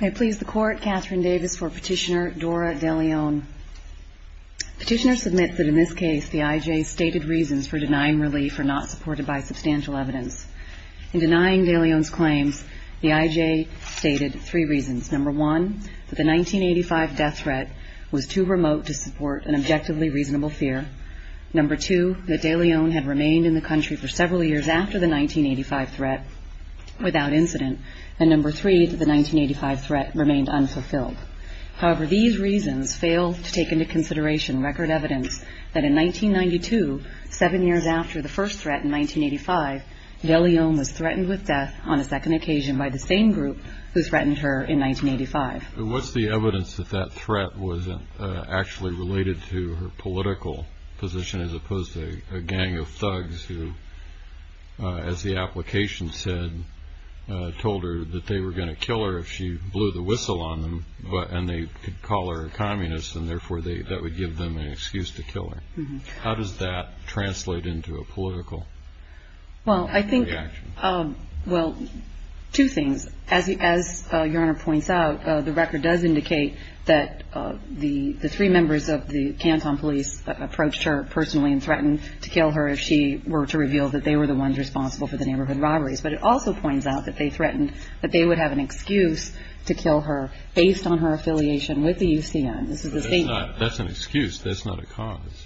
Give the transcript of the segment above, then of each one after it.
I please the Court, Catherine Davis for Petitioner Dora de Leon. Petitioner submits that in this case the IJ stated reasons for denying relief are not supported by substantial evidence. In denying de Leon's claims, the IJ stated three reasons. Number one, that the 1985 death threat was too remote to support an objectively reasonable fear. Number two, that de Leon had remained in the country for several years after the 1985 threat without incident. And number three, that the 1985 threat remained unfulfilled. However, these reasons fail to take into consideration record evidence that in 1992, seven years after the first threat in 1985, de Leon was threatened with death on a second occasion by the same group who threatened her in 1985. What's the evidence that that threat wasn't actually related to her political position as opposed to a gang of thugs who, as the application said, told her that they were going to kill her if she blew the whistle on them, and they could call her a communist and therefore that would give them an excuse to kill her? How does that translate into a political reaction? Well, I think, well, two things. As Your Honor points out, the record does indicate that the three members of the Canton police approached her personally and threatened to kill her if she were to reveal that they were the ones responsible for the neighborhood robberies. But it also points out that they threatened that they would have an excuse to kill her based on her affiliation with the UCN. That's an excuse, that's not a cause.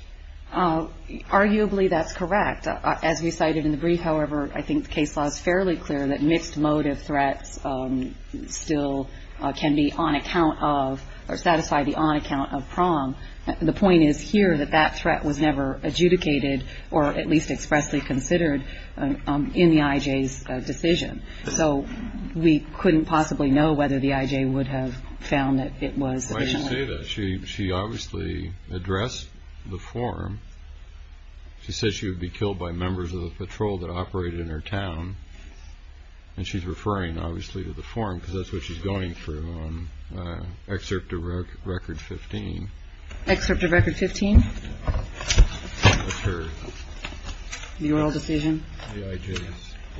Arguably that's correct. As we cited in the brief, however, I think the case law is fairly clear that mixed motive threats still can be on account of or satisfy the on account of PROM. The point is here that that threat was never adjudicated or at least expressly considered in the I.J.'s decision. So we couldn't possibly know whether the I.J. would have found that it was sufficient. Why did she say that? She obviously addressed the forum. She said she would be killed by members of the patrol that operated in her town. And she's referring, obviously, to the forum because that's what she's going through on Excerpt of Record 15. Excerpt of Record 15? That's her. The oral decision? The I.J.'s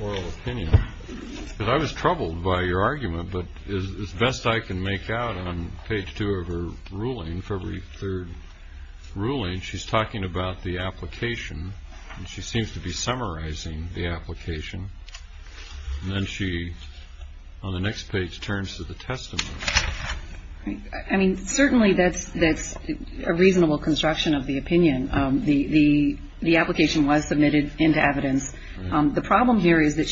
oral opinion. I was troubled by your argument, but as best I can make out on page two of her ruling, February 3rd ruling, she's talking about the application, and she seems to be summarizing the application. And then she, on the next page, turns to the testimony. I mean, certainly that's a reasonable construction of the opinion. The application was submitted into evidence. The problem here is that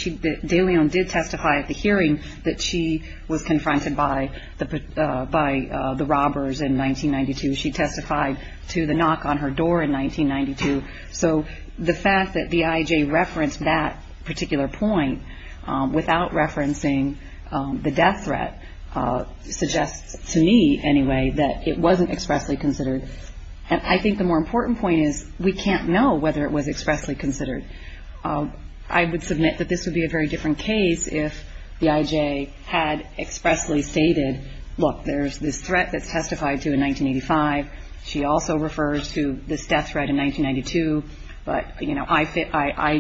De Leon did testify at the hearing that she was confronted by the robbers in 1992. She testified to the knock on her door in 1992. So the fact that the I.J. referenced that particular point without referencing the death threat suggests to me, anyway, that it wasn't expressly considered. And I think the more important point is we can't know whether it was expressly considered. I would submit that this would be a very different case if the I.J. had expressly stated, look, there's this threat that's testified to in 1985. She also refers to this death threat in 1992. But, you know, I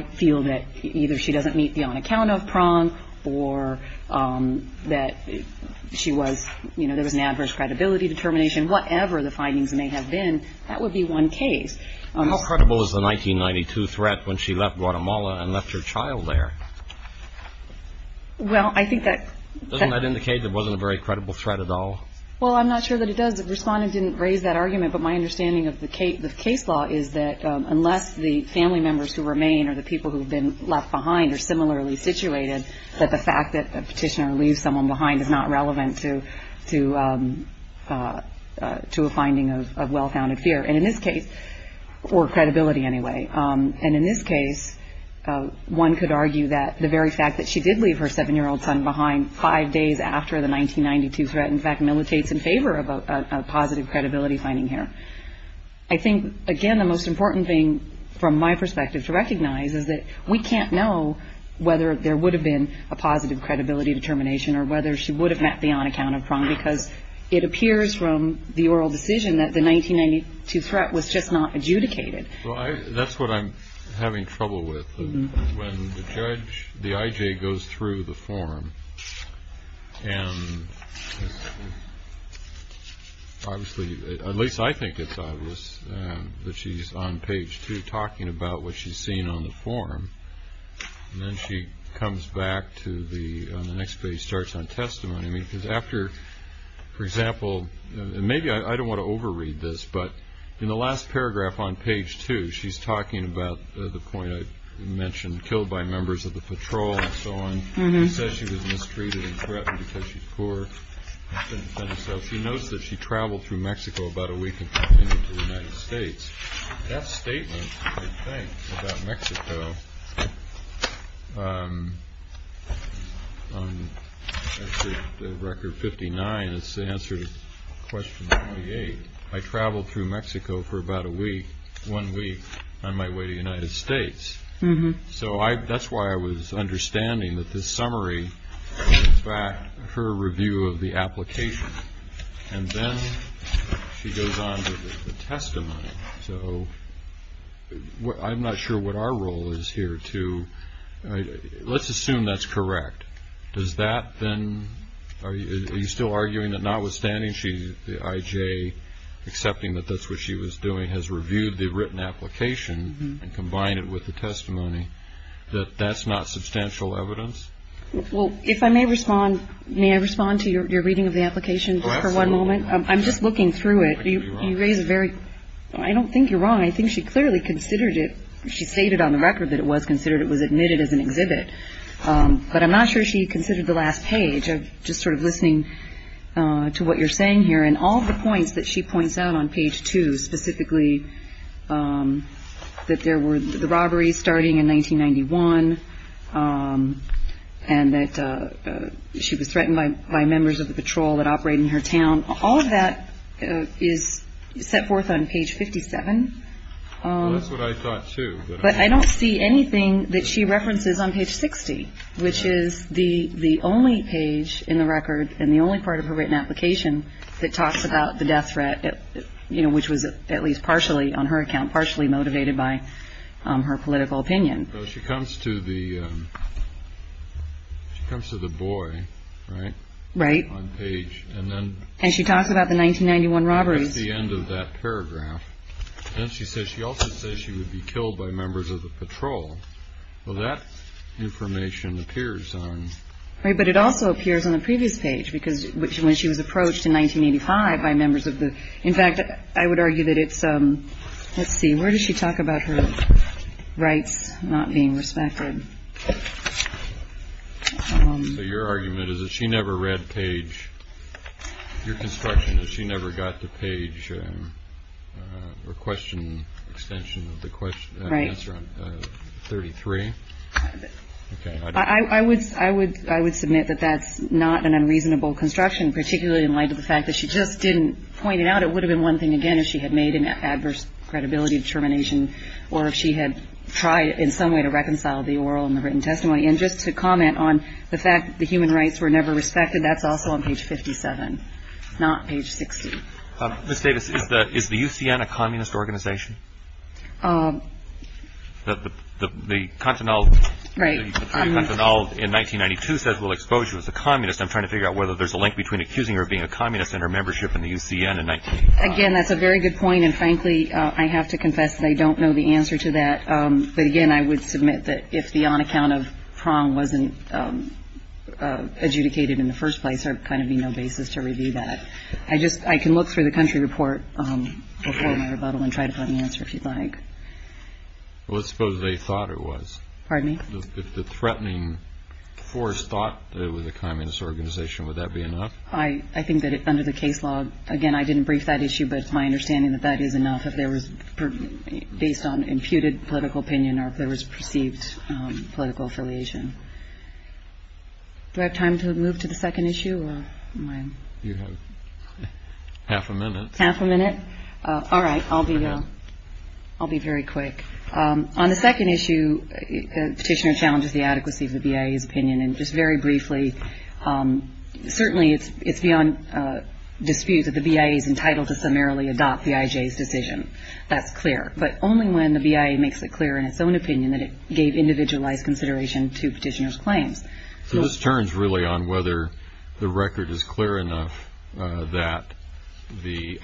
feel that either she doesn't meet the on-account-of prong, or that she was, you know, there was an adverse credibility determination. Whatever the findings may have been, that would be one case. How credible is the 1992 threat when she left Guatemala and left her child there? Well, I think that that Doesn't that indicate it wasn't a very credible threat at all? Well, I'm not sure that it does. The Respondent didn't raise that argument. But my understanding of the case law is that unless the family members who remain or the people who have been left behind are similarly situated, that the fact that a petitioner leaves someone behind is not relevant to a finding of well-founded fear. And in this case, or credibility anyway, and in this case, one could argue that the very fact that she did leave her 7-year-old son behind 5 days after the 1992 threat in fact militates in favor of a positive credibility finding here. I think, again, the most important thing from my perspective to recognize is that we can't know whether there would have been a positive credibility determination or whether she would have met the on-account-of prong because it appears from the oral decision that the 1992 threat was just not adjudicated. Well, that's what I'm having trouble with. When the judge, the I.J., goes through the form, and obviously, at least I think it's obvious, that she's on page 2 talking about what she's seen on the form, and then she comes back to the next page, starts on testimony, because after, for example, and maybe I don't want to over-read this, but in the last paragraph on page 2, she's talking about the point I mentioned, killed by members of the patrol and so on. She says she was mistreated and threatened because she's poor. She notes that she traveled through Mexico about a week and continued to the United States. That statement, I think, about Mexico, on record 59, it's the answer to question 28. I traveled through Mexico for about a week, one week, on my way to the United States. So that's why I was understanding that this summary was in fact her review of the application. And then she goes on to the testimony. So I'm not sure what our role is here, too. Let's assume that's correct. Does that then, are you still arguing that notwithstanding the IJ accepting that that's what she was doing, has reviewed the written application and combined it with the testimony, that that's not substantial evidence? Well, if I may respond, may I respond to your reading of the application for one moment? I'm just looking through it. You raise a very, I don't think you're wrong. I think she clearly considered it, she stated on the record that it was considered, it was admitted as an exhibit. But I'm not sure she considered the last page. I'm just sort of listening to what you're saying here. And all the points that she points out on page 2, specifically that there were the robberies starting in 1991 and that she was threatened by members of the patrol that operate in her town, all of that is set forth on page 57. That's what I thought, too. But I don't see anything that she references on page 60, which is the the only page in the record and the only part of her written application that talks about the death threat, you know, which was at least partially on her account, partially motivated by her political opinion. She comes to the comes to the boy. Right. Right. On page. And then she talks about the 1991 robberies. The end of that paragraph. And she says she also says she would be killed by members of the patrol. Well, that information appears on. Right. But it also appears on the previous page, because when she was approached in 1985 by members of the. In fact, I would argue that it's. Let's see. Where does she talk about her rights not being respected? So your argument is that she never read page your construction and she never got the page or question extension of the question. Right. Thirty three. I would I would I would submit that that's not an unreasonable construction, particularly in light of the fact that she just didn't point it out. It would have been one thing again if she had made an adverse credibility determination or if she had tried in some way to reconcile the oral and the written testimony. And just to comment on the fact that the human rights were never respected. That's also on page fifty seven, not page 60. Miss Davis, is that is the UCN a communist organization? The continental right now in 1992 says we'll expose you as a communist. I'm trying to figure out whether there's a link between accusing her of being a communist and her membership in the UCN. Again, that's a very good point. And frankly, I have to confess that I don't know the answer to that. But again, I would submit that if the on account of prong wasn't adjudicated in the first place, there would kind of be no basis to review that. I just I can look through the country report before my rebuttal and try to find the answer if you'd like. Let's suppose they thought it was. Pardon me. The threatening force thought it was a communist organization. Would that be enough? I think that under the case law, again, I didn't brief that issue. But it's my understanding that that is enough if there was based on imputed political opinion or if there was perceived political affiliation. Do I have time to move to the second issue? Half a minute. Half a minute. All right. I'll be. I'll be very quick on the second issue. Petitioner challenges the adequacy of the BIA's opinion. And just very briefly. Certainly, it's beyond dispute that the BIA is entitled to summarily adopt the IJ's decision. That's clear. But only when the BIA makes it clear in its own opinion that it gave individualized consideration to petitioner's claims. So this turns really on whether the record is clear enough that the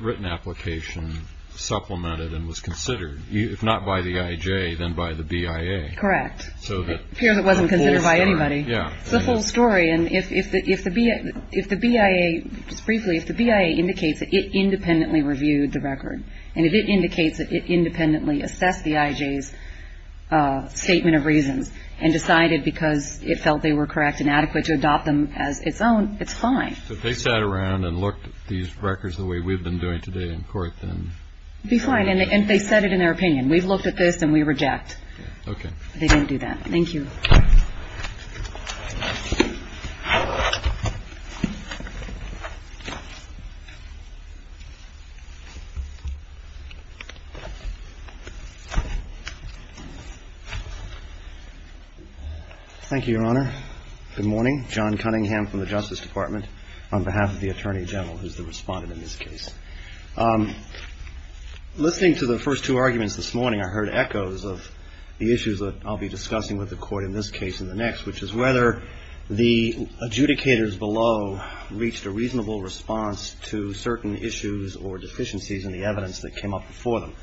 written application supplemented and was considered, if not by the IJ, then by the BIA. Correct. So it appears it wasn't considered by anybody. Yeah. It's the whole story. And if the BIA, just briefly, if the BIA indicates that it independently reviewed the record and if it indicates that it independently assessed the IJ's statement of reasons and decided because it felt they were correct and adequate to adopt them as its own, it's fine. If they sat around and looked at these records the way we've been doing today in court, then. It'd be fine. And they said it in their opinion. We've looked at this and we reject. Okay. They didn't do that. Thank you. Thank you, Your Honor. Good morning. John Cunningham from the Justice Department on behalf of the Attorney General, who's the respondent in this case. Listening to the first two arguments this morning, I heard echoes of the issues that I'll be discussing with the Court in this case and the next, which is whether the adjudicators below reached a reasonable response to certain issues or deficiencies in the evidence that came up before them.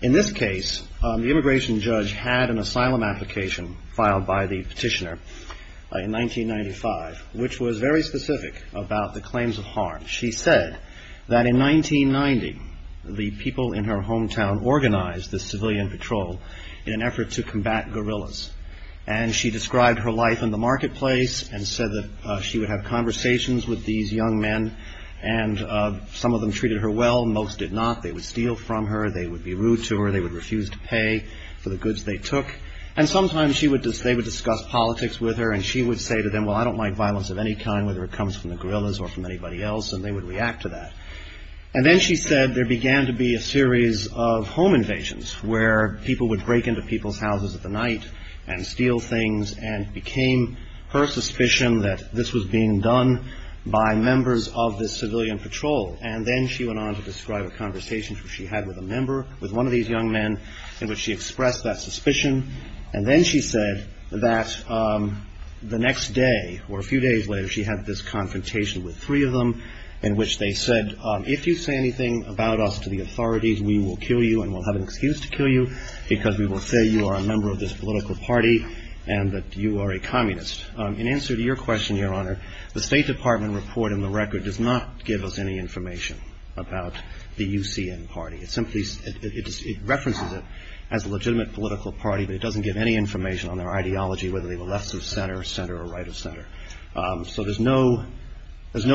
In this case, the immigration judge had an asylum application filed by the petitioner in 1995, which was very specific about the claims of harm. She said that in 1990, the people in her hometown organized the civilian patrol in an effort to combat gorillas. And she described her life in the marketplace and said that she would have conversations with these young men. And some of them treated her well. Most did not. They would steal from her. They would be rude to her. They would refuse to pay for the goods they took. And sometimes they would discuss politics with her and she would say to them, well, I don't like violence of any kind, whether it comes from the gorillas or from anybody else, and they would react to that. And then she said there began to be a series of home invasions where people would break into people's houses at the night and steal things and it became her suspicion that this was being done by members of this civilian patrol. And then she went on to describe a conversation she had with a member, with one of these young men, in which she expressed that suspicion. And then she said that the next day, or a few days later, she had this confrontation with three of them in which they said, if you say anything about us to the authorities, we will kill you and we'll have an excuse to kill you because we will say you are a member of this political party and that you are a communist. In answer to your question, Your Honor, the State Department report in the record does not give us any information about the UCN party. It references it as a legitimate political party, but it doesn't give any information on their ideology, whether they were left of center, center, or right of center. So there's no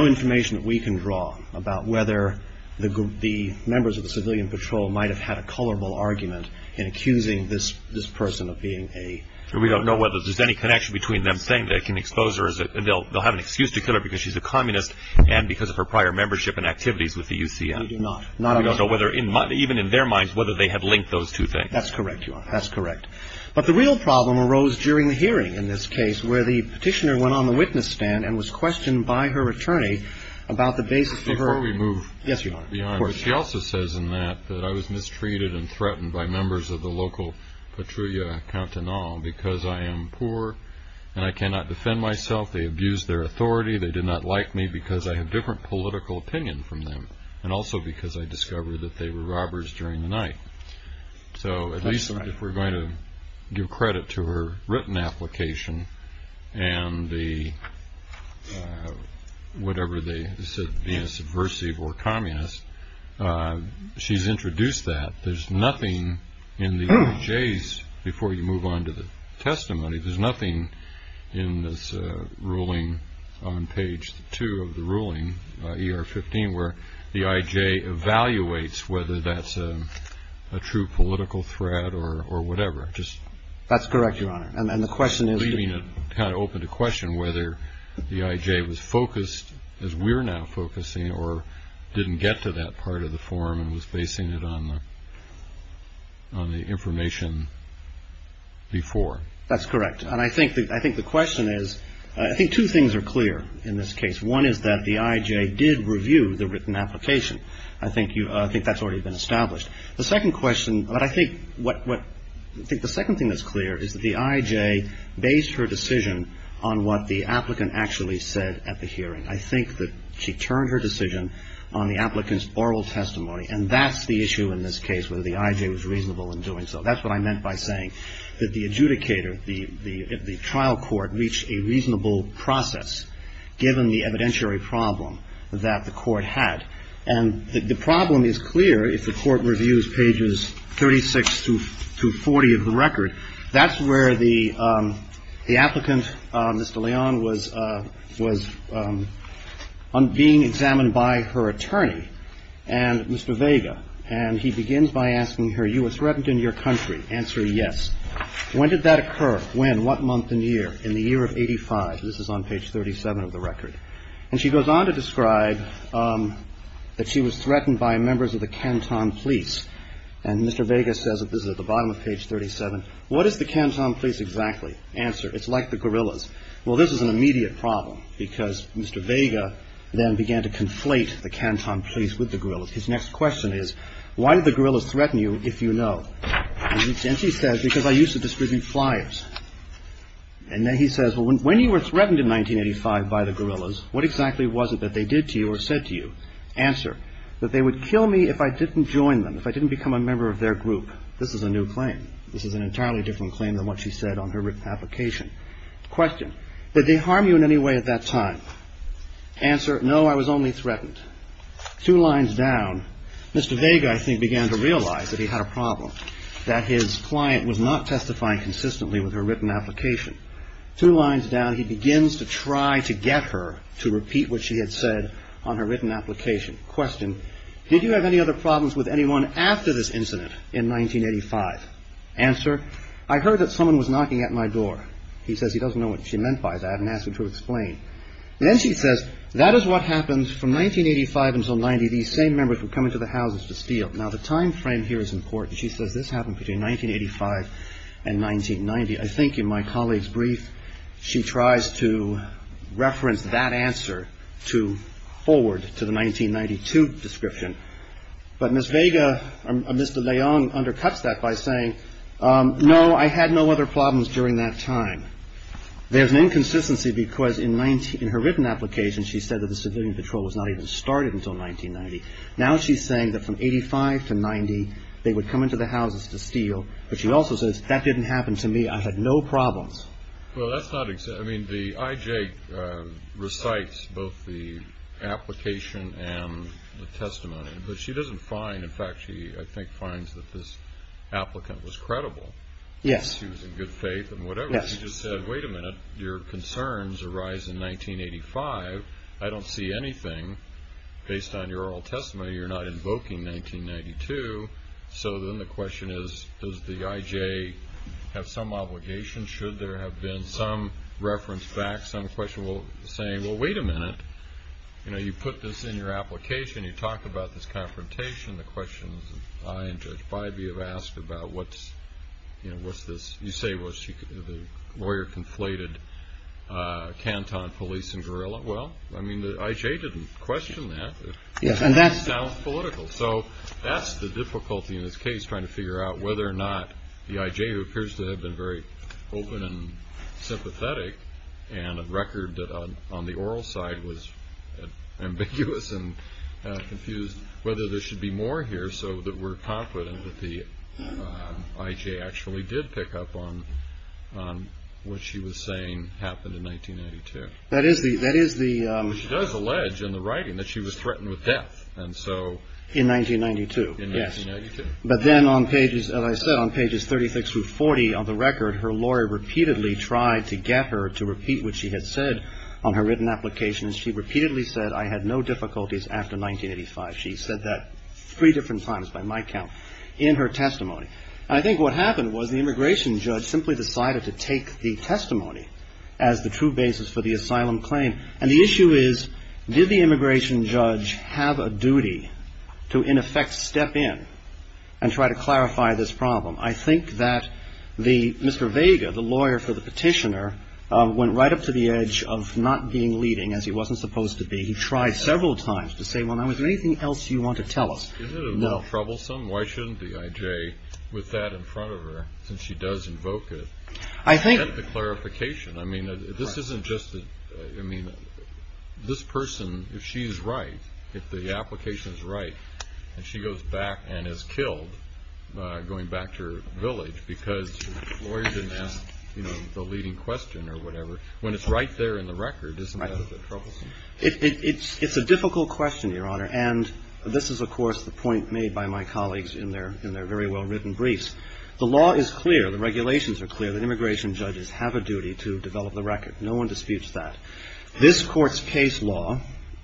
information that we can draw about whether the members of the civilian patrol might have had a colorable argument in accusing this person of being a... We don't know whether there's any connection between them saying they can expose her and they'll have an excuse to kill her because she's a communist and because of her prior membership and activities with the UCN. We do not. We don't know whether, even in their minds, whether they have linked those two things. That's correct, Your Honor. That's correct. But the real problem arose during the hearing in this case where the petitioner went on the witness stand and was questioned by her attorney about the basis of her... Before we move... Yes, Your Honor, of course. She also says in that that I was mistreated and threatened by members of the local patrulla countenal because I am poor and I cannot defend myself. They abused their authority. They did not like me because I have different political opinion from them and also because I discovered that they were robbers during the night. That's right. So at least if we're going to give credit to her written application and the... whatever they said, being a subversive or communist, she's introduced that. There's nothing in the EJ's, before you move on to the testimony, there's nothing in this ruling on page 2 of the ruling, ER 15, where the IJ evaluates whether that's a true political threat or whatever. That's correct, Your Honor. And the question is... Leaving it kind of open to question whether the IJ was focused, as we're now focusing, or didn't get to that part of the form and was basing it on the information before. That's correct. And I think the question is... I think two things are clear in this case. One is that the IJ did review the written application. I think that's already been established. The second question... I think the second thing that's clear is that the IJ based her decision on what the applicant actually said at the hearing. I think that she turned her decision on the applicant's oral testimony and that's the issue in this case, whether the IJ was reasonable in doing so. That's what I meant by saying that the adjudicator, the trial court, reached a reasonable process given the evidentiary problem that the court had. And the problem is clear if the court reviews pages 36 to 40 of the record. That's where the applicant, Mr. Leon, was being examined by her attorney and Mr. Vega. And he begins by asking her, you were threatened in your country. Answer, yes. When did that occur? When? What month and year? In the year of 85. This is on page 37 of the record. And she goes on to describe that she was threatened by members of the Canton police. And Mr. Vega says, this is at the bottom of page 37, what is the Canton police exactly? Answer, it's like the guerrillas. Well, this is an immediate problem because Mr. Vega then began to conflate the Canton police with the guerrillas. His next question is, why did the guerrillas threaten you if you know? And she says, because I used to distribute flyers. And then he says, well, when you were threatened in 1985 by the guerrillas, what exactly was it that they did to you or said to you? Answer, that they would kill me if I didn't join them, if I didn't become a member of their group. This is a new claim. This is an entirely different claim than what she said on her written application. Question, did they harm you in any way at that time? Answer, no, I was only threatened. Two lines down, Mr. Vega, I think, began to realize that he had a problem, that his client was not testifying consistently with her written application. Two lines down, he begins to try to get her to repeat what she had said on her written application. Question, did you have any other problems with anyone after this incident in 1985? Answer, I heard that someone was knocking at my door. He says he doesn't know what she meant by that and asked her to explain. Then she says, that is what happened from 1985 until 1990. These same members were coming to the houses to steal. Now, the time frame here is important. She says this happened between 1985 and 1990. I think in my colleague's brief, she tries to reference that answer to forward to the 1992 description. But Ms. Vega, Mr. Leong, undercuts that by saying, no, I had no other problems during that time. There's an inconsistency because in her written application, she said that the civilian patrol was not even started until 1990. Now she's saying that from 1985 to 1990, they would come into the houses to steal. But she also says, that didn't happen to me. I had no problems. Well, that's not exactly – I mean, the IJ recites both the application and the testimony. But she doesn't find – in fact, she, I think, finds that this applicant was credible. Yes. She was in good faith and whatever. She just said, wait a minute, your concerns arise in 1985. I don't see anything. Based on your oral testimony, you're not invoking 1992. So then the question is, does the IJ have some obligation? Should there have been some reference back, some question saying, well, wait a minute. You know, you put this in your application. You talk about this confrontation. I and Judge Bybee have asked about what's this – you say the lawyer conflated Canton police and guerrilla. Well, I mean, the IJ didn't question that. It just sounds political. So that's the difficulty in this case, trying to figure out whether or not the IJ, who appears to have been very open and sympathetic, and a record that on the oral side was ambiguous and confused, whether there should be more here so that we're confident that the IJ actually did pick up on what she was saying happened in 1992. That is the – She does allege in the writing that she was threatened with death, and so – In 1992. In 1992. But then on pages, as I said, on pages 36 through 40 of the record, her lawyer repeatedly tried to get her to repeat what she had said on her written application, and she repeatedly said, I had no difficulties after 1985. She said that three different times, by my count, in her testimony. And I think what happened was the immigration judge simply decided to take the testimony as the true basis for the asylum claim. And the issue is, did the immigration judge have a duty to in effect step in and try to clarify this problem? I think that the – Mr. Vega, the lawyer for the petitioner, went right up to the edge of not being leading, as he wasn't supposed to be. He tried several times to say, well, now, is there anything else you want to tell us? No. Is it a little troublesome? Why shouldn't the IJ, with that in front of her, since she does invoke it – I think – Get the clarification. I mean, this isn't just – I mean, this person, if she is right, if the application is right, and she goes back and is killed going back to her village because the lawyer didn't ask the leading question or whatever, when it's right there in the record, isn't that a bit troublesome? It's a difficult question, Your Honor. And this is, of course, the point made by my colleagues in their very well-written briefs. The law is clear, the regulations are clear that immigration judges have a duty to develop the record. No one disputes that. This Court's case law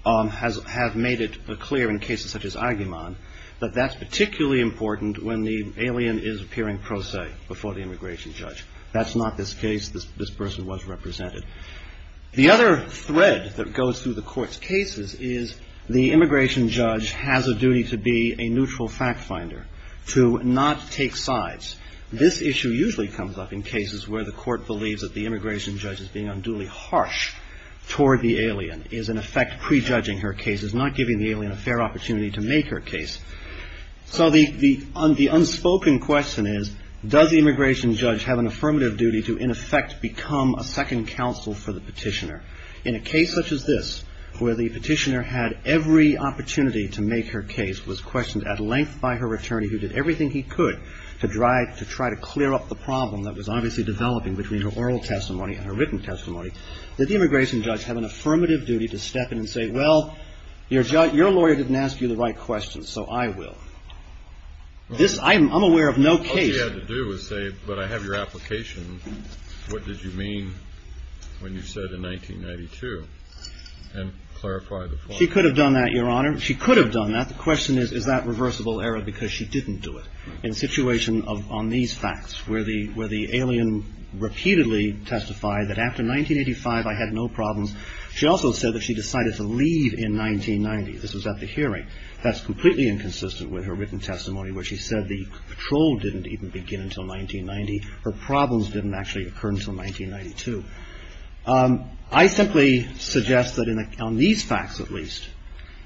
has made it clear in cases such as Aguiman that that's particularly important when the alien is appearing pro se before the immigration judge. That's not this case. This person was represented. The other thread that goes through the Court's cases is the immigration judge has a duty to be a neutral fact finder, to not take sides. This issue usually comes up in cases where the Court believes that the immigration judge is being unduly harsh toward the alien, is in effect prejudging her case, is not giving the alien a fair opportunity to make her case. So the unspoken question is, does the immigration judge have an affirmative duty to, in effect, become a second counsel for the petitioner? In a case such as this, where the petitioner had every opportunity to make her case, was questioned at length by her attorney, who did everything he could to try to clear up the problem that was obviously developing between her oral testimony and her written testimony, did the immigration judge have an affirmative duty to step in and say, well, your lawyer didn't ask you the right questions, so I will. I'm aware of no case. All she had to do was say, but I have your application. What did you mean when you said in 1992? And clarify the point. She could have done that, Your Honor. She could have done that. The question is, is that reversible error? Because she didn't do it. In a situation on these facts, where the alien repeatedly testified that after 1985 I had no problems, she also said that she decided to leave in 1990. This was at the hearing. That's completely inconsistent with her written testimony, where she said the patrol didn't even begin until 1990. Her problems didn't actually occur until 1992. I simply suggest that on these facts, at least,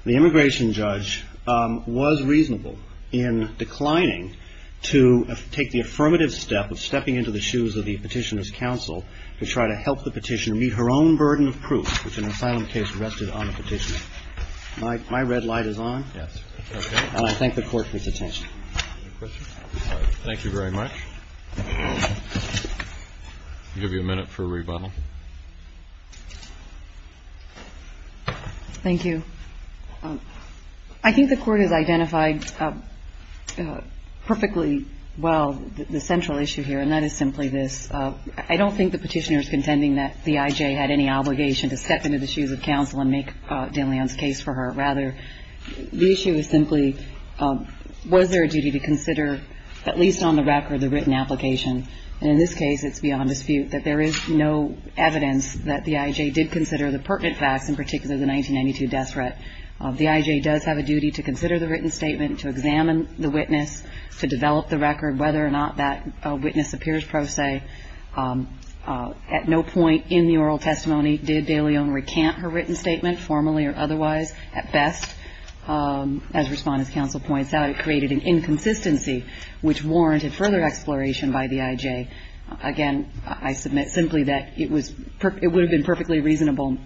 the immigration judge was reasonable in declining to take the affirmative step of stepping into the shoes of the petitioner's counsel to try to help the petitioner meet her own burden of proof, which an asylum case rested on the petitioner. My red light is on. Yes. Okay. And I thank the Court for its attention. Any questions? All right. Thank you very much. I'll give you a minute for a rebuttal. Thank you. I think the Court has identified perfectly well the central issue here, and that is simply this. I don't think the petitioner is contending that the I.J. had any obligation to step into the shoes of counsel and make de Leon's case for her. Rather, the issue is simply, was there a duty to consider, at least on the record, the written application? And in this case, it's beyond dispute that there is no evidence that the I.J. did consider the pertinent facts, in particular the 1992 death threat. The I.J. does have a duty to consider the written statement, to examine the witness, to develop the record, whether or not that witness appears pro se. At no point in the oral testimony did de Leon recant her written statement, formally or otherwise. At best, as Respondent's counsel points out, it created an inconsistency which warranted further exploration by the I.J. Again, I submit simply that it would have been perfectly reasonable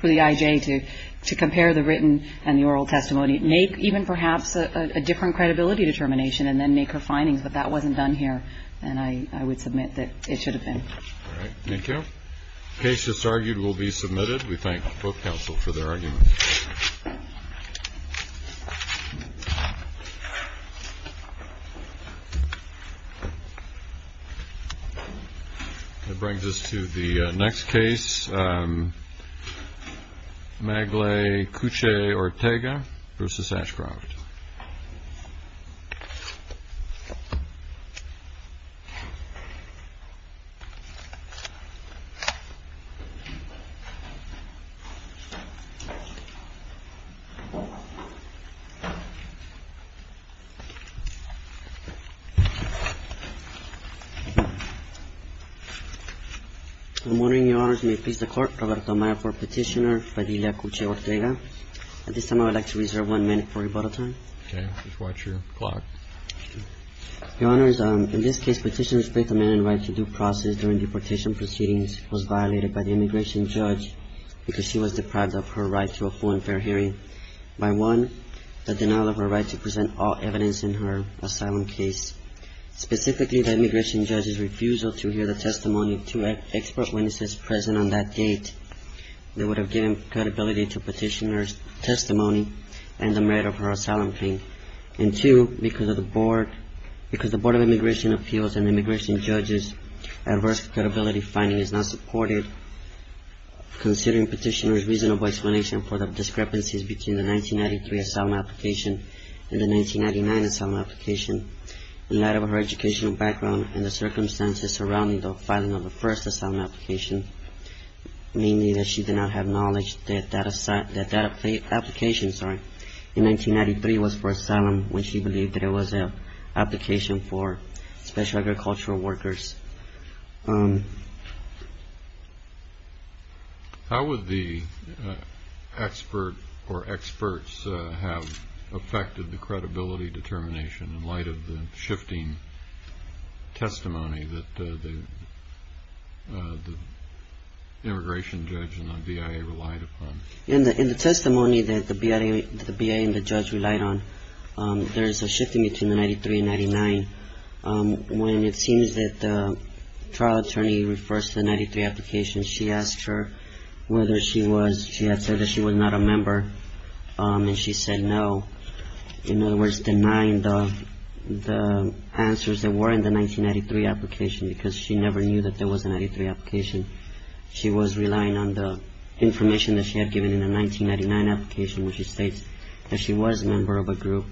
for the I.J. to compare the written and the oral testimony, make even perhaps a different credibility determination, and then make her findings. But that wasn't done here, and I would submit that it should have been. All right. Thank you. The case that's argued will be submitted. We thank both counsel for their arguments. That brings us to the next case. Maglay Couchet-Ortega v. Ashcroft. I'm wondering, Your Honors, may it please the Court, Roberto Amaya for Petitioner Fidelia Couchet-Ortega. At this time, I would like to reserve one minute for rebuttal time. Okay. Just watch your clock. Your Honors, in this case, Petitioner's faith-amending right to due process during deportation proceedings was violated by the immigration judge because she was deprived of her right to a full and fair hearing by one, the denial of her right to present all evidence in her asylum case. Specifically, the immigration judge's refusal to hear the testimony of two expert witnesses present on that date, they would have given credibility to Petitioner's testimony and the merit of her asylum claim. And two, because the Board of Immigration Appeals and immigration judges' adverse credibility finding is not supported, considering Petitioner's reasonable explanation for the discrepancies between the 1993 asylum application and the 1999 asylum application, in light of her educational background and the circumstances surrounding the filing of the first asylum application, namely that she did not have knowledge that that application in 1993 was for asylum, when she believed that it was an application for special agricultural workers. How would the expert or experts have affected the credibility determination in light of the shifting testimony that the immigration judge and the BIA relied upon? In the testimony that the BIA and the judge relied on, there is a shifting between the 1993 and 1999, when it seems that the trial attorney refers to the 1993 application. She asked her whether she had said that she was not a member, and she said no. In other words, denying the answers that were in the 1993 application, because she never knew that there was a 1993 application. She was relying on the information that she had given in the 1999 application, which states that she was a member of a group,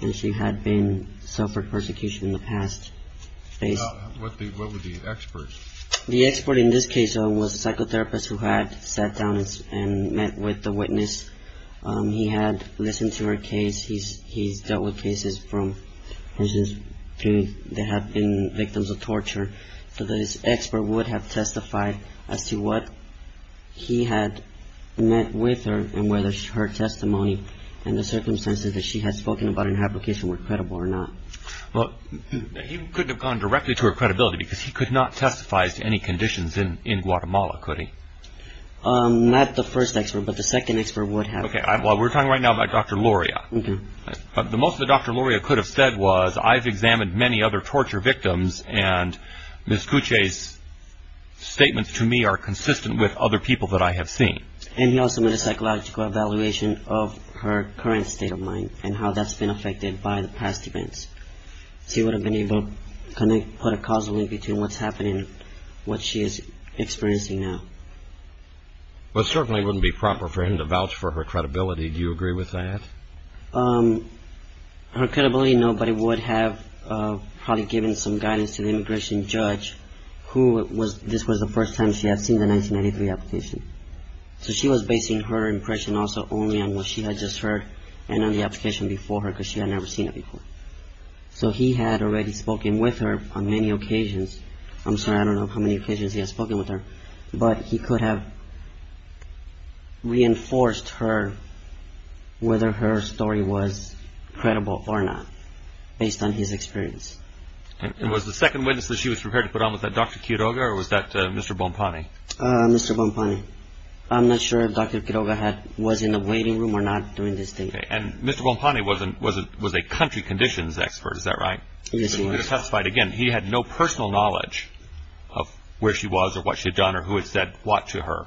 and she had suffered persecution in the past. What were the experts? The expert in this case was a psychotherapist who had sat down and met with the witness. He had listened to her case. He's dealt with cases that have been victims of torture, so the expert would have testified as to what he had met with her and whether her testimony and the circumstances that she had spoken about in her application were credible or not. He couldn't have gone directly to her credibility because he could not testify as to any conditions in Guatemala, could he? Not the first expert, but the second expert would have. But the most that Dr. Luria could have said was, I've examined many other torture victims, and Ms. Kuche's statements to me are consistent with other people that I have seen. And he also made a psychological evaluation of her current state of mind and how that's been affected by the past events. So he would have been able to put a causal link between what's happening and what she is experiencing now. Well, it certainly wouldn't be proper for him to vouch for her credibility. Do you agree with that? Her credibility, no, but it would have probably given some guidance to the immigration judge, who this was the first time she had seen the 1993 application. So she was basing her impression also only on what she had just heard and on the application before her because she had never seen it before. So he had already spoken with her on many occasions. I'm sorry, I don't know how many occasions he had spoken with her, but he could have reinforced her, whether her story was credible or not, based on his experience. And was the second witness that she was prepared to put on, was that Dr. Quiroga or was that Mr. Bonpane? Mr. Bonpane. I'm not sure if Dr. Quiroga was in the waiting room or not during this date. And Mr. Bonpane was a country conditions expert, is that right? Yes, he was. He could have testified again. He had no personal knowledge of where she was or what she had done or who had said what to her.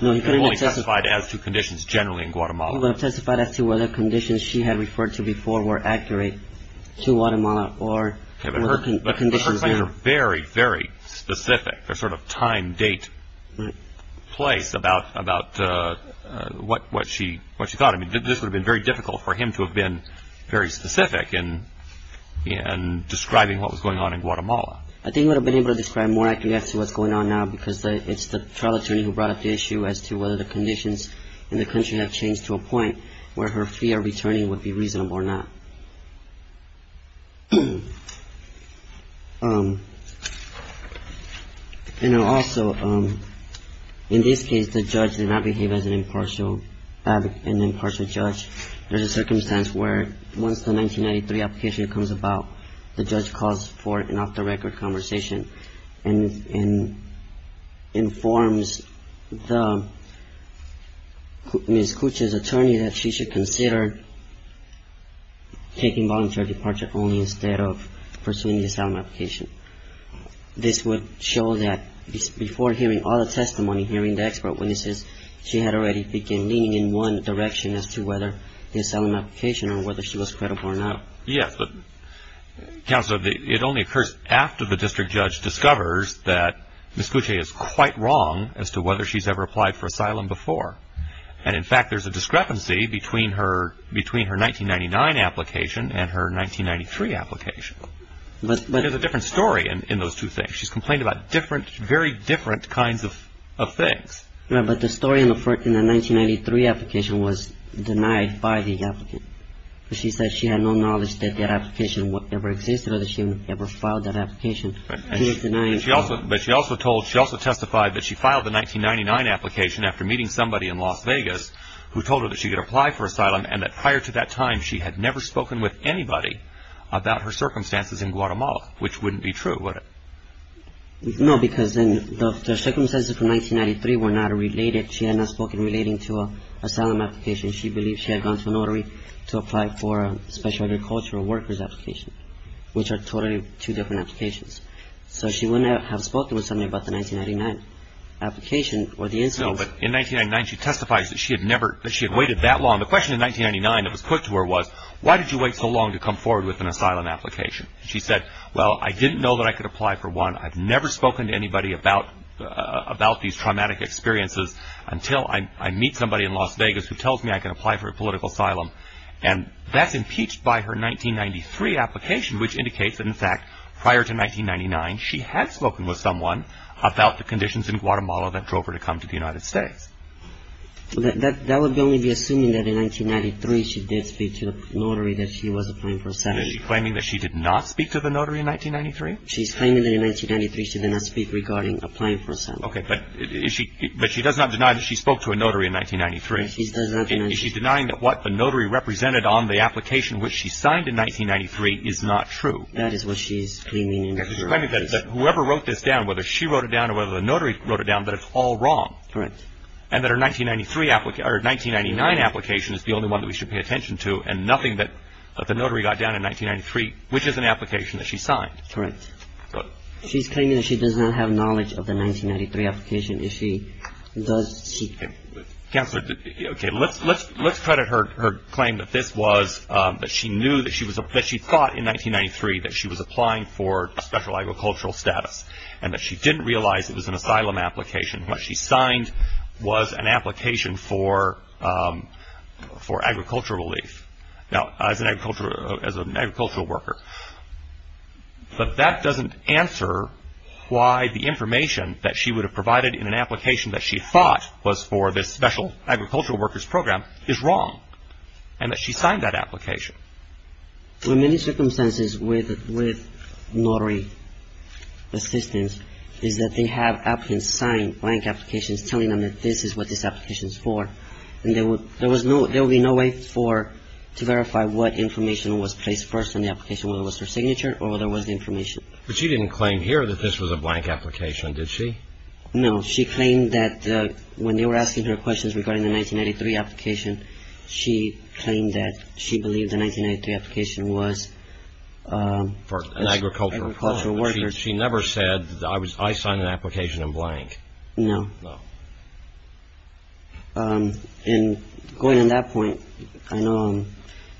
No, he couldn't have testified. He could have only testified as to conditions generally in Guatemala. He would have testified as to whether conditions she had referred to before were accurate to Guatemala or the conditions there. But her claims are very, very specific. They're sort of time, date, place about what she thought. I mean, this would have been very difficult for him to have been very specific in describing what was going on in Guatemala. I think he would have been able to describe more accurately as to what's going on now because it's the trial attorney who brought up the issue as to whether the conditions in the country have changed to a point where her fear of returning would be reasonable or not. And also, in this case, the judge did not behave as an impartial judge. There's a circumstance where once the 1993 application comes about, the judge calls for an off-the-record conversation and informs Ms. Kucha's attorney that she should consider taking voluntary departure only instead of pursuing the asylum application. This would show that before hearing all the testimony, hearing the expert witnesses, she had already begun leaning in one direction as to whether the asylum application or whether she was credible or not. Yes, but, Counselor, it only occurs after the district judge discovers that Ms. Kucha is quite wrong as to whether she's ever applied for asylum before. And, in fact, there's a discrepancy between her 1999 application and her 1993 application. There's a different story in those two things. She's complained about different, very different kinds of things. Yeah, but the story in the 1993 application was denied by the applicant. She said she had no knowledge that that application ever existed or that she ever filed that application. But she also testified that she filed the 1999 application after meeting somebody in Las Vegas who told her that she could apply for asylum and that prior to that time, she had never spoken with anybody about her circumstances in Guatemala, which wouldn't be true, would it? No, because the circumstances from 1993 were not related. She had not spoken relating to an asylum application. She believed she had gone to a notary to apply for a special agricultural worker's application, which are totally two different applications. So she wouldn't have spoken with somebody about the 1999 application or the instance. No, but in 1999, she testifies that she had waited that long. The question in 1999 that was put to her was, why did you wait so long to come forward with an asylum application? She said, well, I didn't know that I could apply for one. I've never spoken to anybody about these traumatic experiences until I meet somebody in Las Vegas who tells me I can apply for a political asylum. And that's impeached by her 1993 application, which indicates that, in fact, prior to 1999, she had spoken with someone about the conditions in Guatemala that drove her to come to the United States. That would only be assuming that in 1993, she did speak to the notary that she was applying for asylum. Is she claiming that she did not speak to the notary in 1993? She's claiming that in 1993, she did not speak regarding applying for asylum. Okay. But she does not deny that she spoke to a notary in 1993. She does not deny that. Is she denying that what the notary represented on the application which she signed in 1993 is not true? That is what she is claiming in her application. She's claiming that whoever wrote this down, whether she wrote it down or whether the notary wrote it down, that it's all wrong. Correct. And that her 1993 application or her 1999 application is the only one that we should pay attention to and nothing that the notary got down in 1993, which is an application that she signed. Correct. She's claiming that she does not have knowledge of the 1993 application. Does she? Counselor, okay, let's credit her claim that this was that she knew that she thought in 1993 that she was applying for special agricultural status and that she didn't realize it was an asylum application. What she signed was an application for agricultural relief. Now, as an agricultural worker. But that doesn't answer why the information that she would have provided in an application that she thought was for this special agricultural worker's program is wrong and that she signed that application. In many circumstances with notary assistants is that they have applicants sign blank applications telling them that this is what this application is for. And there will be no way to verify what information was placed first in the application, whether it was her signature or whether it was the information. But she didn't claim here that this was a blank application, did she? No. She claimed that when they were asking her questions regarding the 1993 application, she claimed that she believed the 1993 application was for agricultural workers. She never said I signed an application in blank. No. No. And going on that point, I know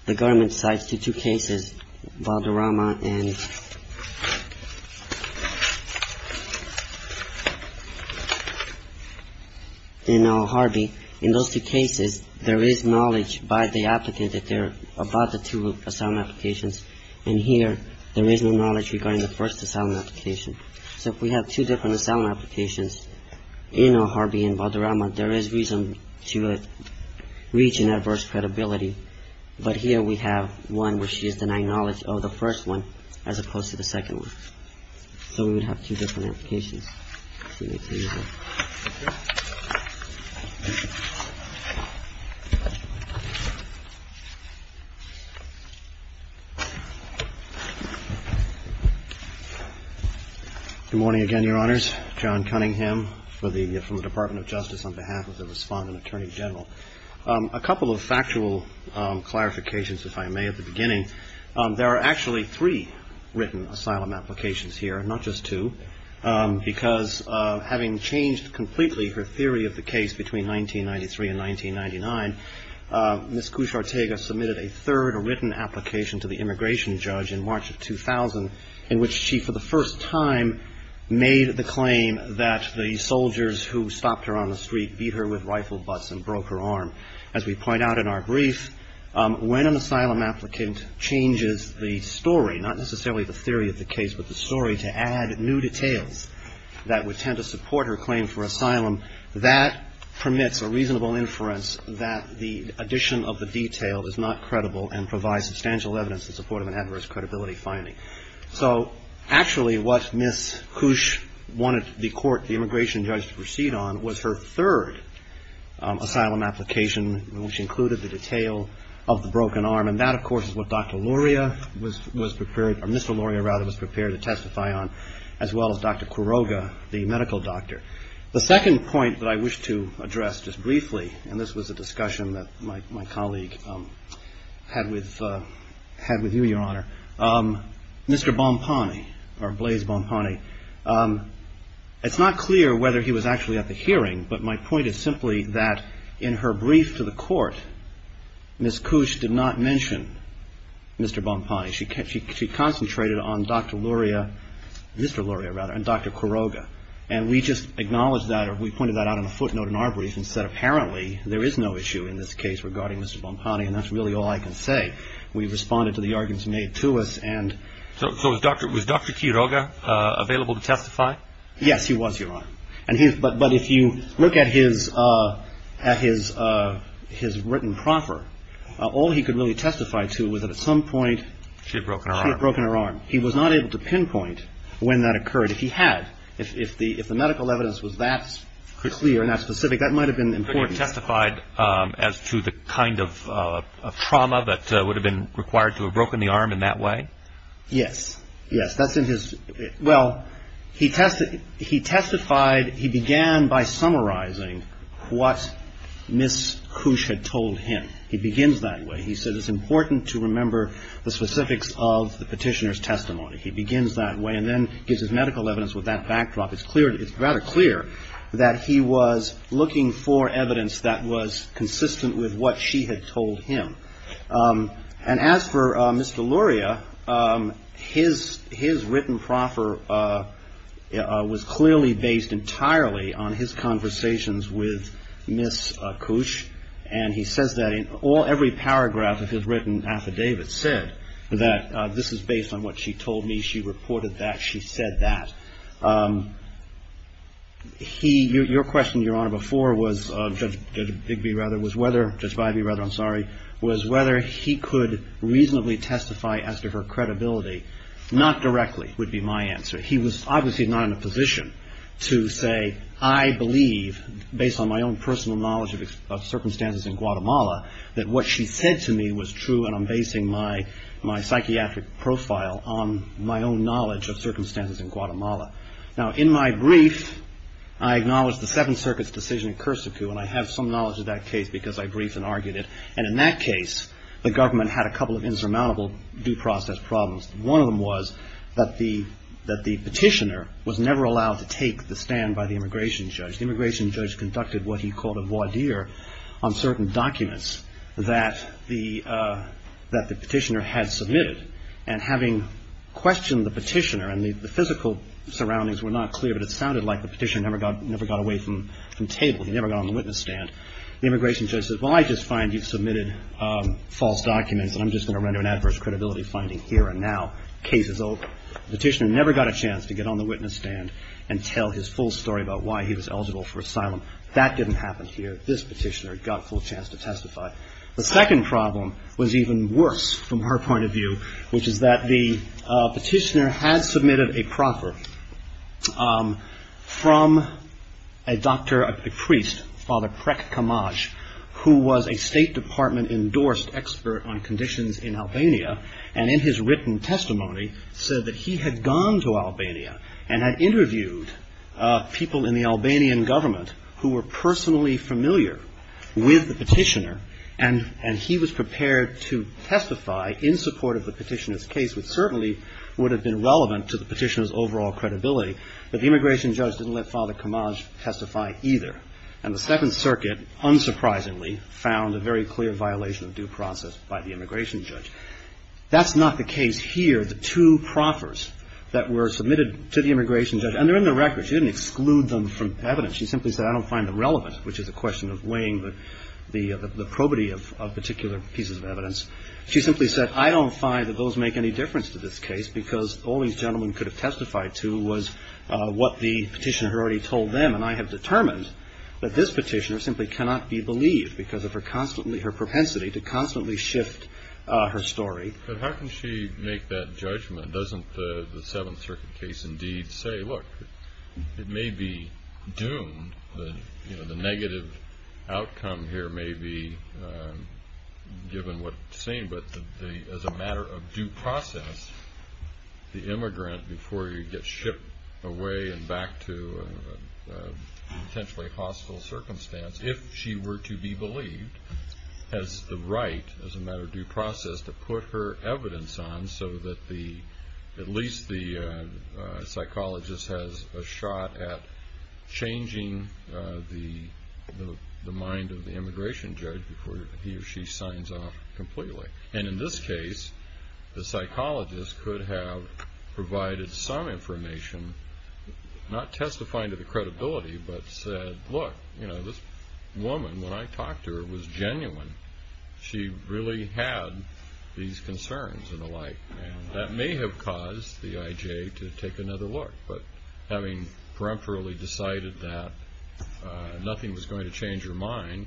the government cites two cases, Valderrama and Harvey. In those two cases, there is knowledge by the applicant that they're about the two asylum applications. And here there is no knowledge regarding the first asylum application. So if we have two different asylum applications in Harvey and Valderrama, there is reason to reach an adverse credibility. But here we have one where she is denying knowledge of the first one as opposed to the second one. So we would have two different applications. Good morning again, Your Honors. John Cunningham from the Department of Justice on behalf of the Respondent Attorney General. A couple of factual clarifications, if I may, at the beginning. There are actually three written asylum applications here, not just two, because having changed completely her theory of the case between 1993 and 1999, Ms. Cushartega submitted a third written application to the immigration judge in March of 2000 in which she for the first time made the claim that the soldiers who stopped her on the street As we point out in our brief, when an asylum applicant changes the story, not necessarily the theory of the case, but the story to add new details that would tend to support her claim for asylum, that permits a reasonable inference that the addition of the detail is not credible and provides substantial evidence in support of an adverse credibility finding. So actually what Ms. Cush wanted the court, the immigration judge, to proceed on was her third asylum application, which included the detail of the broken arm. And that, of course, is what Dr. Luria was prepared, or Mr. Luria, rather, was prepared to testify on, as well as Dr. Quiroga, the medical doctor. The second point that I wish to address just briefly, and this was a discussion that my colleague had with you, Your Honor, Mr. Bonpane, or Blaise Bonpane, it's not clear whether he was actually at the hearing, but my point is simply that in her brief to the court, Ms. Cush did not mention Mr. Bonpane. She concentrated on Dr. Luria, Mr. Luria, rather, and Dr. Quiroga. And we just acknowledged that, or we pointed that out on a footnote in our brief and said apparently there is no issue in this case regarding Mr. Bonpane, and that's really all I can say. We responded to the arguments made to us. So was Dr. Quiroga available to testify? Yes, he was, Your Honor. But if you look at his written proffer, all he could really testify to was that at some point she had broken her arm. He was not able to pinpoint when that occurred. If he had, if the medical evidence was that clear and that specific, that might have been important. He testified as to the kind of trauma that would have been required to have broken the arm in that way? Yes. Yes, that's in his, well, he testified, he began by summarizing what Ms. Cush had told him. He begins that way. He said it's important to remember the specifics of the petitioner's testimony. He begins that way and then gives his medical evidence with that backdrop. It's clear, it's rather clear that he was looking for evidence that was consistent with what she had told him. And as for Mr. Luria, his written proffer was clearly based entirely on his conversations with Ms. Cush. And he says that in all, every paragraph of his written affidavit said that this is based on what she told me. She reported that. She said that. He, your question, Your Honor, before was Judge Bigby, rather, was whether, Judge Bybee, rather, I'm sorry, was whether he could reasonably testify as to her credibility. Not directly would be my answer. He was obviously not in a position to say, I believe based on my own personal knowledge of circumstances in Guatemala that what she said to me was true and I'm basing my psychiatric profile on my own knowledge of circumstances in Guatemala. Now, in my brief, I acknowledge the Seventh Circuit's decision in Cursicu and I have some knowledge of that case because I briefed and argued it. And in that case, the government had a couple of insurmountable due process problems. One of them was that the petitioner was never allowed to take the stand by the immigration judge. The immigration judge conducted what he called a voir dire on certain documents that the petitioner had submitted. And having questioned the petitioner and the physical surroundings were not clear, but it sounded like the petitioner never got away from table, he never got on the witness stand, the immigration judge said, well, I just find you've submitted false documents and I'm just going to render an adverse credibility finding here and now. Case is over. The petitioner never got a chance to get on the witness stand and tell his full story about why he was eligible for asylum. That didn't happen here. This petitioner got a full chance to testify. The second problem was even worse from her point of view, which is that the petitioner had submitted a proffer from a doctor, a priest, Father Krek Kamaj, who was a State Department endorsed expert on conditions in Albania, and in his written testimony said that he had gone to Albania and had interviewed people in the Albanian government who were personally familiar with the petitioner and he was prepared to testify in support of the petitioner's case, which certainly would have been relevant to the petitioner's overall credibility, but the immigration judge didn't let Father Kamaj testify either. And the Second Circuit unsurprisingly found a very clear violation of due process by the immigration judge. That's not the case here. The two proffers that were submitted to the immigration judge, and they're in the record. She didn't exclude them from evidence. She simply said I don't find them relevant, which is a question of weighing the probity of particular pieces of evidence. She simply said I don't find that those make any difference to this case because all these gentlemen could have testified to was what the petitioner had already told them, and I have determined that this petitioner simply cannot be believed because of her propensity to constantly shift her story. But how can she make that judgment? Doesn't the Seventh Circuit case indeed say, look, it may be doomed, the negative outcome here may be given what it's saying, but as a matter of due process, the immigrant, before you get shipped away and back to a potentially hostile circumstance, if she were to be believed, has the right as a matter of due process to put her evidence on so that at least the psychologist has a shot at changing the mind of the immigration judge before he or she signs off completely. And in this case, the psychologist could have provided some information, not testifying to the credibility, but said, look, this woman, when I talked to her, was genuine. She really had these concerns and the like. That may have caused the IJ to take another look, but having peremptorily decided that nothing was going to change her mind,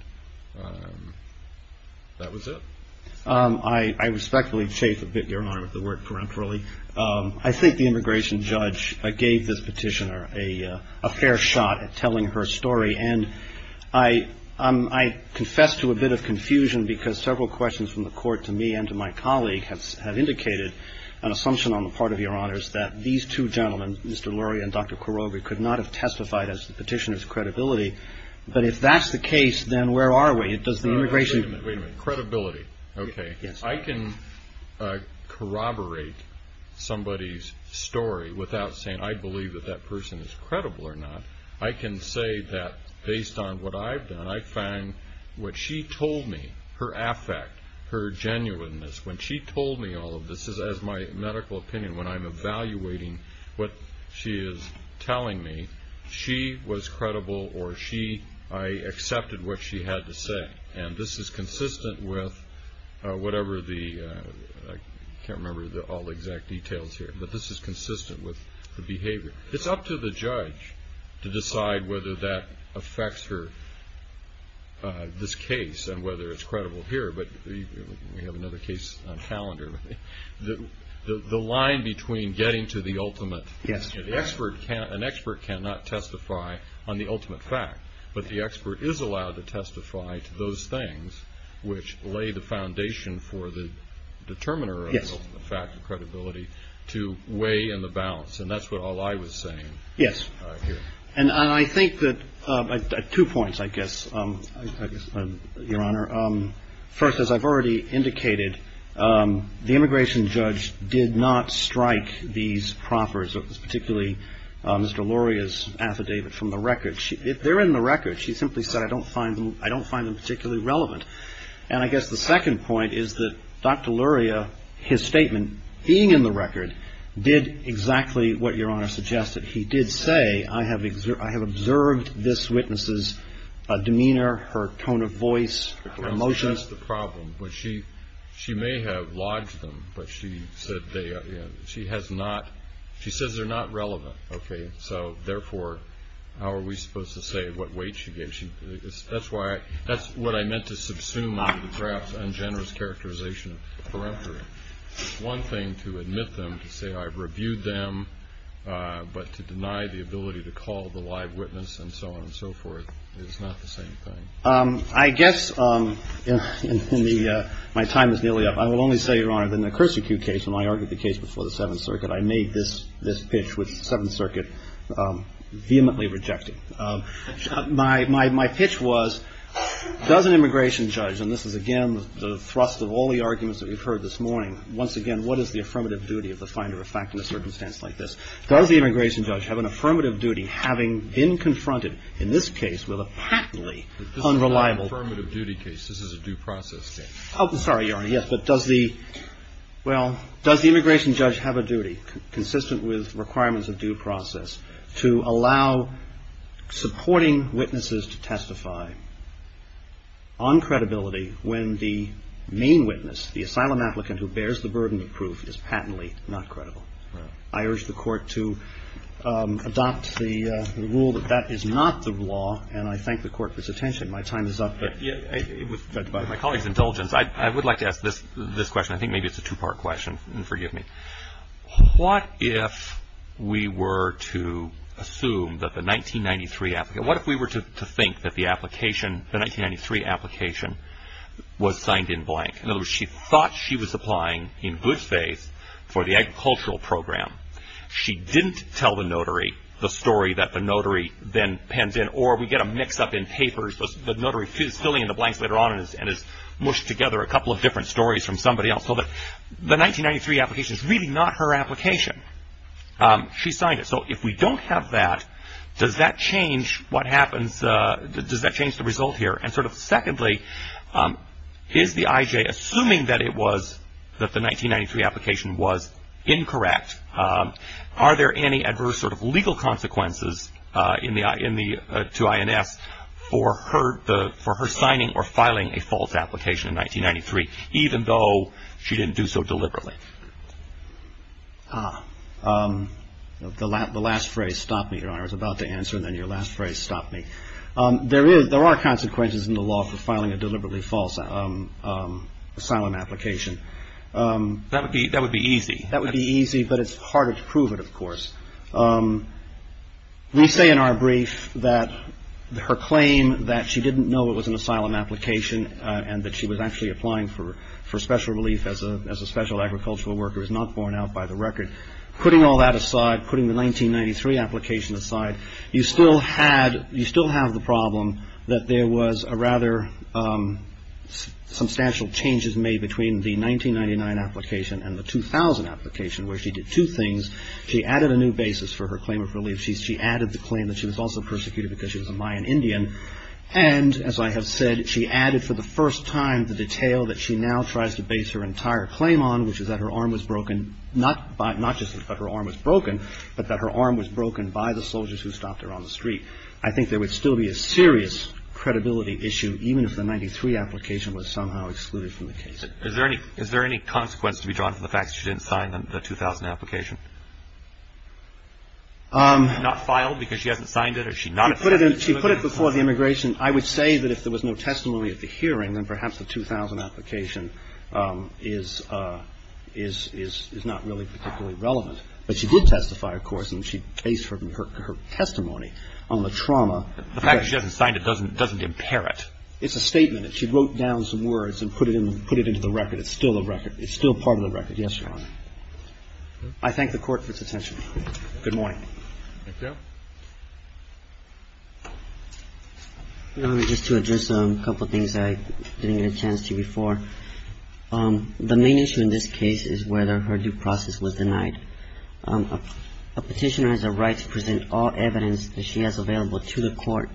that was it. I respectfully chafe a bit your Honor with the word peremptorily. I think the immigration judge gave this petitioner a fair shot at telling her story. And I confess to a bit of confusion because several questions from the court to me and to my colleague have indicated an assumption on the part of your Honors that these two gentlemen, Mr. Lurie and Dr. Koroge, could not have testified as the petitioner's credibility. But if that's the case, then where are we? Does the immigration judge? Wait a minute. Credibility. Okay. Yes. I can corroborate somebody's story without saying I believe that that person is credible or not. I can say that based on what I've done, I find what she told me, her affect, her genuineness, when she told me all of this, as my medical opinion, when I'm evaluating what she is telling me, she was credible or I accepted what she had to say. And this is consistent with whatever the, I can't remember all the exact details here, but this is consistent with the behavior. It's up to the judge to decide whether that affects her, this case, and whether it's credible here. But we have another case on calendar. The line between getting to the ultimate, an expert cannot testify on the ultimate fact, but the expert is allowed to testify to those things which lay the foundation for the determiner of the fact and credibility to weigh in the balance. And that's what all I was saying here. Yes. And I think that, two points, I guess, Your Honor. First, as I've already indicated, the immigration judge did not strike these proffers, particularly Mr. Luria's affidavit from the record. If they're in the record, she simply said, I don't find them particularly relevant. And I guess the second point is that Dr. Luria, his statement, being in the record, did exactly what Your Honor suggested. He did say, I have observed this witness's demeanor, her tone of voice, her emotions. That's the problem. She may have lodged them, but she said they, she has not, she says they're not relevant. Okay. So, therefore, how are we supposed to say what weight she gave? She, that's why, that's what I meant to subsume on the draft's ungenerous characterization of the periphery. It's one thing to admit them, to say I've reviewed them, but to deny the ability to call the live witness and so on and so forth is not the same thing. I guess in the, my time is nearly up. I will only say, Your Honor, that in the Cursi-Cue case, when I argued the case before the Seventh Circuit, I made this pitch, which the Seventh Circuit vehemently rejected. My pitch was, does an immigration judge, and this is, again, the thrust of all the arguments that we've heard this morning, once again, what is the affirmative duty of the finder of fact in a circumstance like this? Does the immigration judge have an affirmative duty, having been confronted in this case with a patently unreliable. This is not an affirmative duty case. This is a due process case. Oh, sorry, Your Honor. Yes, but does the, well, does the immigration judge have a duty consistent with requirements of due process to allow supporting witnesses to testify on credibility when the main witness, the asylum applicant who bears the burden of proof, is patently not credible? I urge the Court to adopt the rule that that is not the law, and I thank the Court for its attention. My time is up. By my colleague's indulgence, I would like to ask this question. I think maybe it's a two-part question, and forgive me. What if we were to assume that the 1993 applicant, what if we were to think that the application, the 1993 application was signed in blank? In other words, she thought she was applying in good faith for the agricultural program. She didn't tell the notary the story that the notary then pens in, or we get a mix-up in papers. The notary is filling in the blanks later on and has mushed together a couple of different stories from somebody else. So the 1993 application is really not her application. She signed it. So if we don't have that, does that change what happens? Does that change the result here? And sort of secondly, is the IJ, assuming that it was, that the 1993 application was incorrect, are there any adverse sort of legal consequences to INS for her signing or filing a false application in 1993, even though she didn't do so deliberately? The last phrase, stop me, Your Honor, I was about to answer, and then your last phrase, stop me. There are consequences in the law for filing a deliberately false asylum application. That would be easy. That would be easy, but it's harder to prove it, of course. We say in our brief that her claim that she didn't know it was an asylum application and that she was actually applying for special relief as a special agricultural worker is not borne out by the record. Putting all that aside, putting the 1993 application aside, you still have the problem that there was rather substantial changes made between the 1999 application and the 2000 application where she did two things. She added a new basis for her claim of relief. She added the claim that she was also persecuted because she was a Mayan Indian. And as I have said, she added for the first time the detail that she now tries to base her entire claim on, which is that her arm was broken, not just that her arm was broken, but that her arm was broken by the soldiers who stopped her on the street. I think there would still be a serious credibility issue, even if the 1993 application was somehow excluded from the case. Is there any consequence to be drawn from the fact that she didn't sign the 2000 application? She's not filed because she hasn't signed it or she's not at fault? She put it before the immigration. I would say that if there was no testimony at the hearing, then perhaps the 2000 application is not really particularly relevant. But she did testify, of course, and she based her testimony on the trauma. The fact that she hasn't signed it doesn't impair it. It's a statement. She wrote down some words and put it into the record. It's still a record. It's still part of the record. Yes, Your Honor. I thank the Court for its attention. Good morning. Thank you. Just to address a couple of things I didn't get a chance to before. The main issue in this case is whether her due process was denied. A petitioner has a right to present all evidence that she has available to the Court.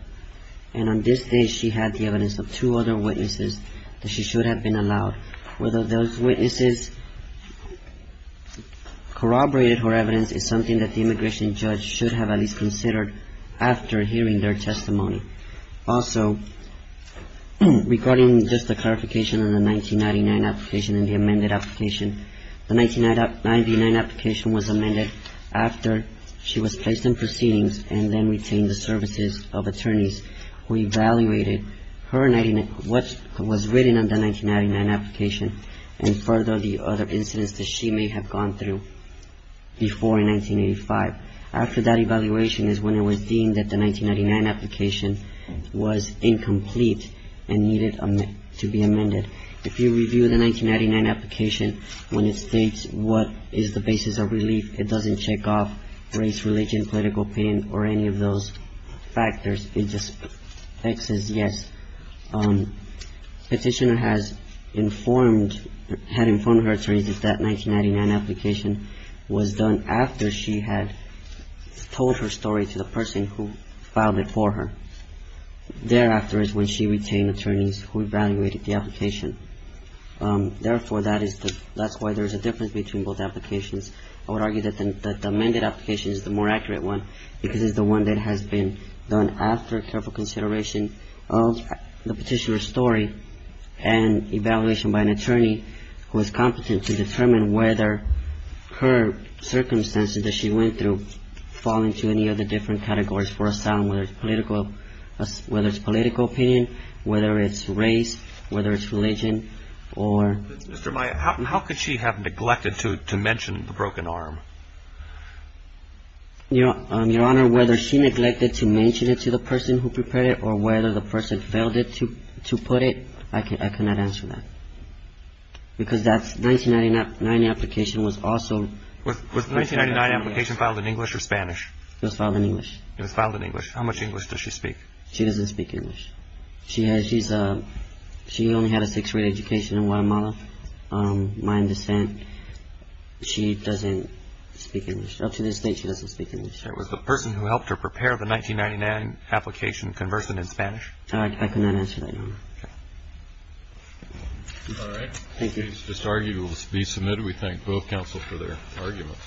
And on this day, she had the evidence of two other witnesses that she should have been allowed. Whether those witnesses corroborated her evidence is something that the immigration judge should have at least considered after hearing their testimony. Also, regarding just the clarification on the 1999 application and the amended application, the 1999 application was amended after she was placed in proceedings and then retained the services of attorneys who evaluated what was written on the 1999 application and further the other incidents that she may have gone through before in 1985. After that evaluation is when it was deemed that the 1999 application was incomplete and needed to be amended. If you review the 1999 application, when it states what is the basis of relief, it doesn't check off race, religion, political opinion, or any of those factors. It just says yes. Petitioner has informed, had informed her attorneys that that 1999 application was done after she had told her story to the person who filed it for her. Thereafter is when she retained attorneys who evaluated the application. Therefore, that is the, that's why there's a difference between both applications. I would argue that the amended application is the more accurate one because it's the one that has been done after careful consideration of the petitioner's story and evaluation by an attorney who is competent to determine whether her circumstances that she went through fall into any of the different categories for asylum, whether it's political, whether it's political opinion, whether it's race, whether it's religion, or... Mr. Maya, how could she have neglected to mention the broken arm? Your Honor, whether she neglected to mention it to the person who prepared it or whether the person failed to put it, I cannot answer that. Because that 1999 application was also... Was the 1999 application filed in English or Spanish? It was filed in English. It was filed in English. How much English does she speak? She doesn't speak English. She only had a 6th grade education in Guatemala. My understanding, she doesn't speak English. Up to this date, she doesn't speak English. Was the person who helped her prepare the 1999 application conversant in Spanish? I cannot answer that, Your Honor. All right. Thank you. This argument will be submitted. We thank both counsel for their arguments.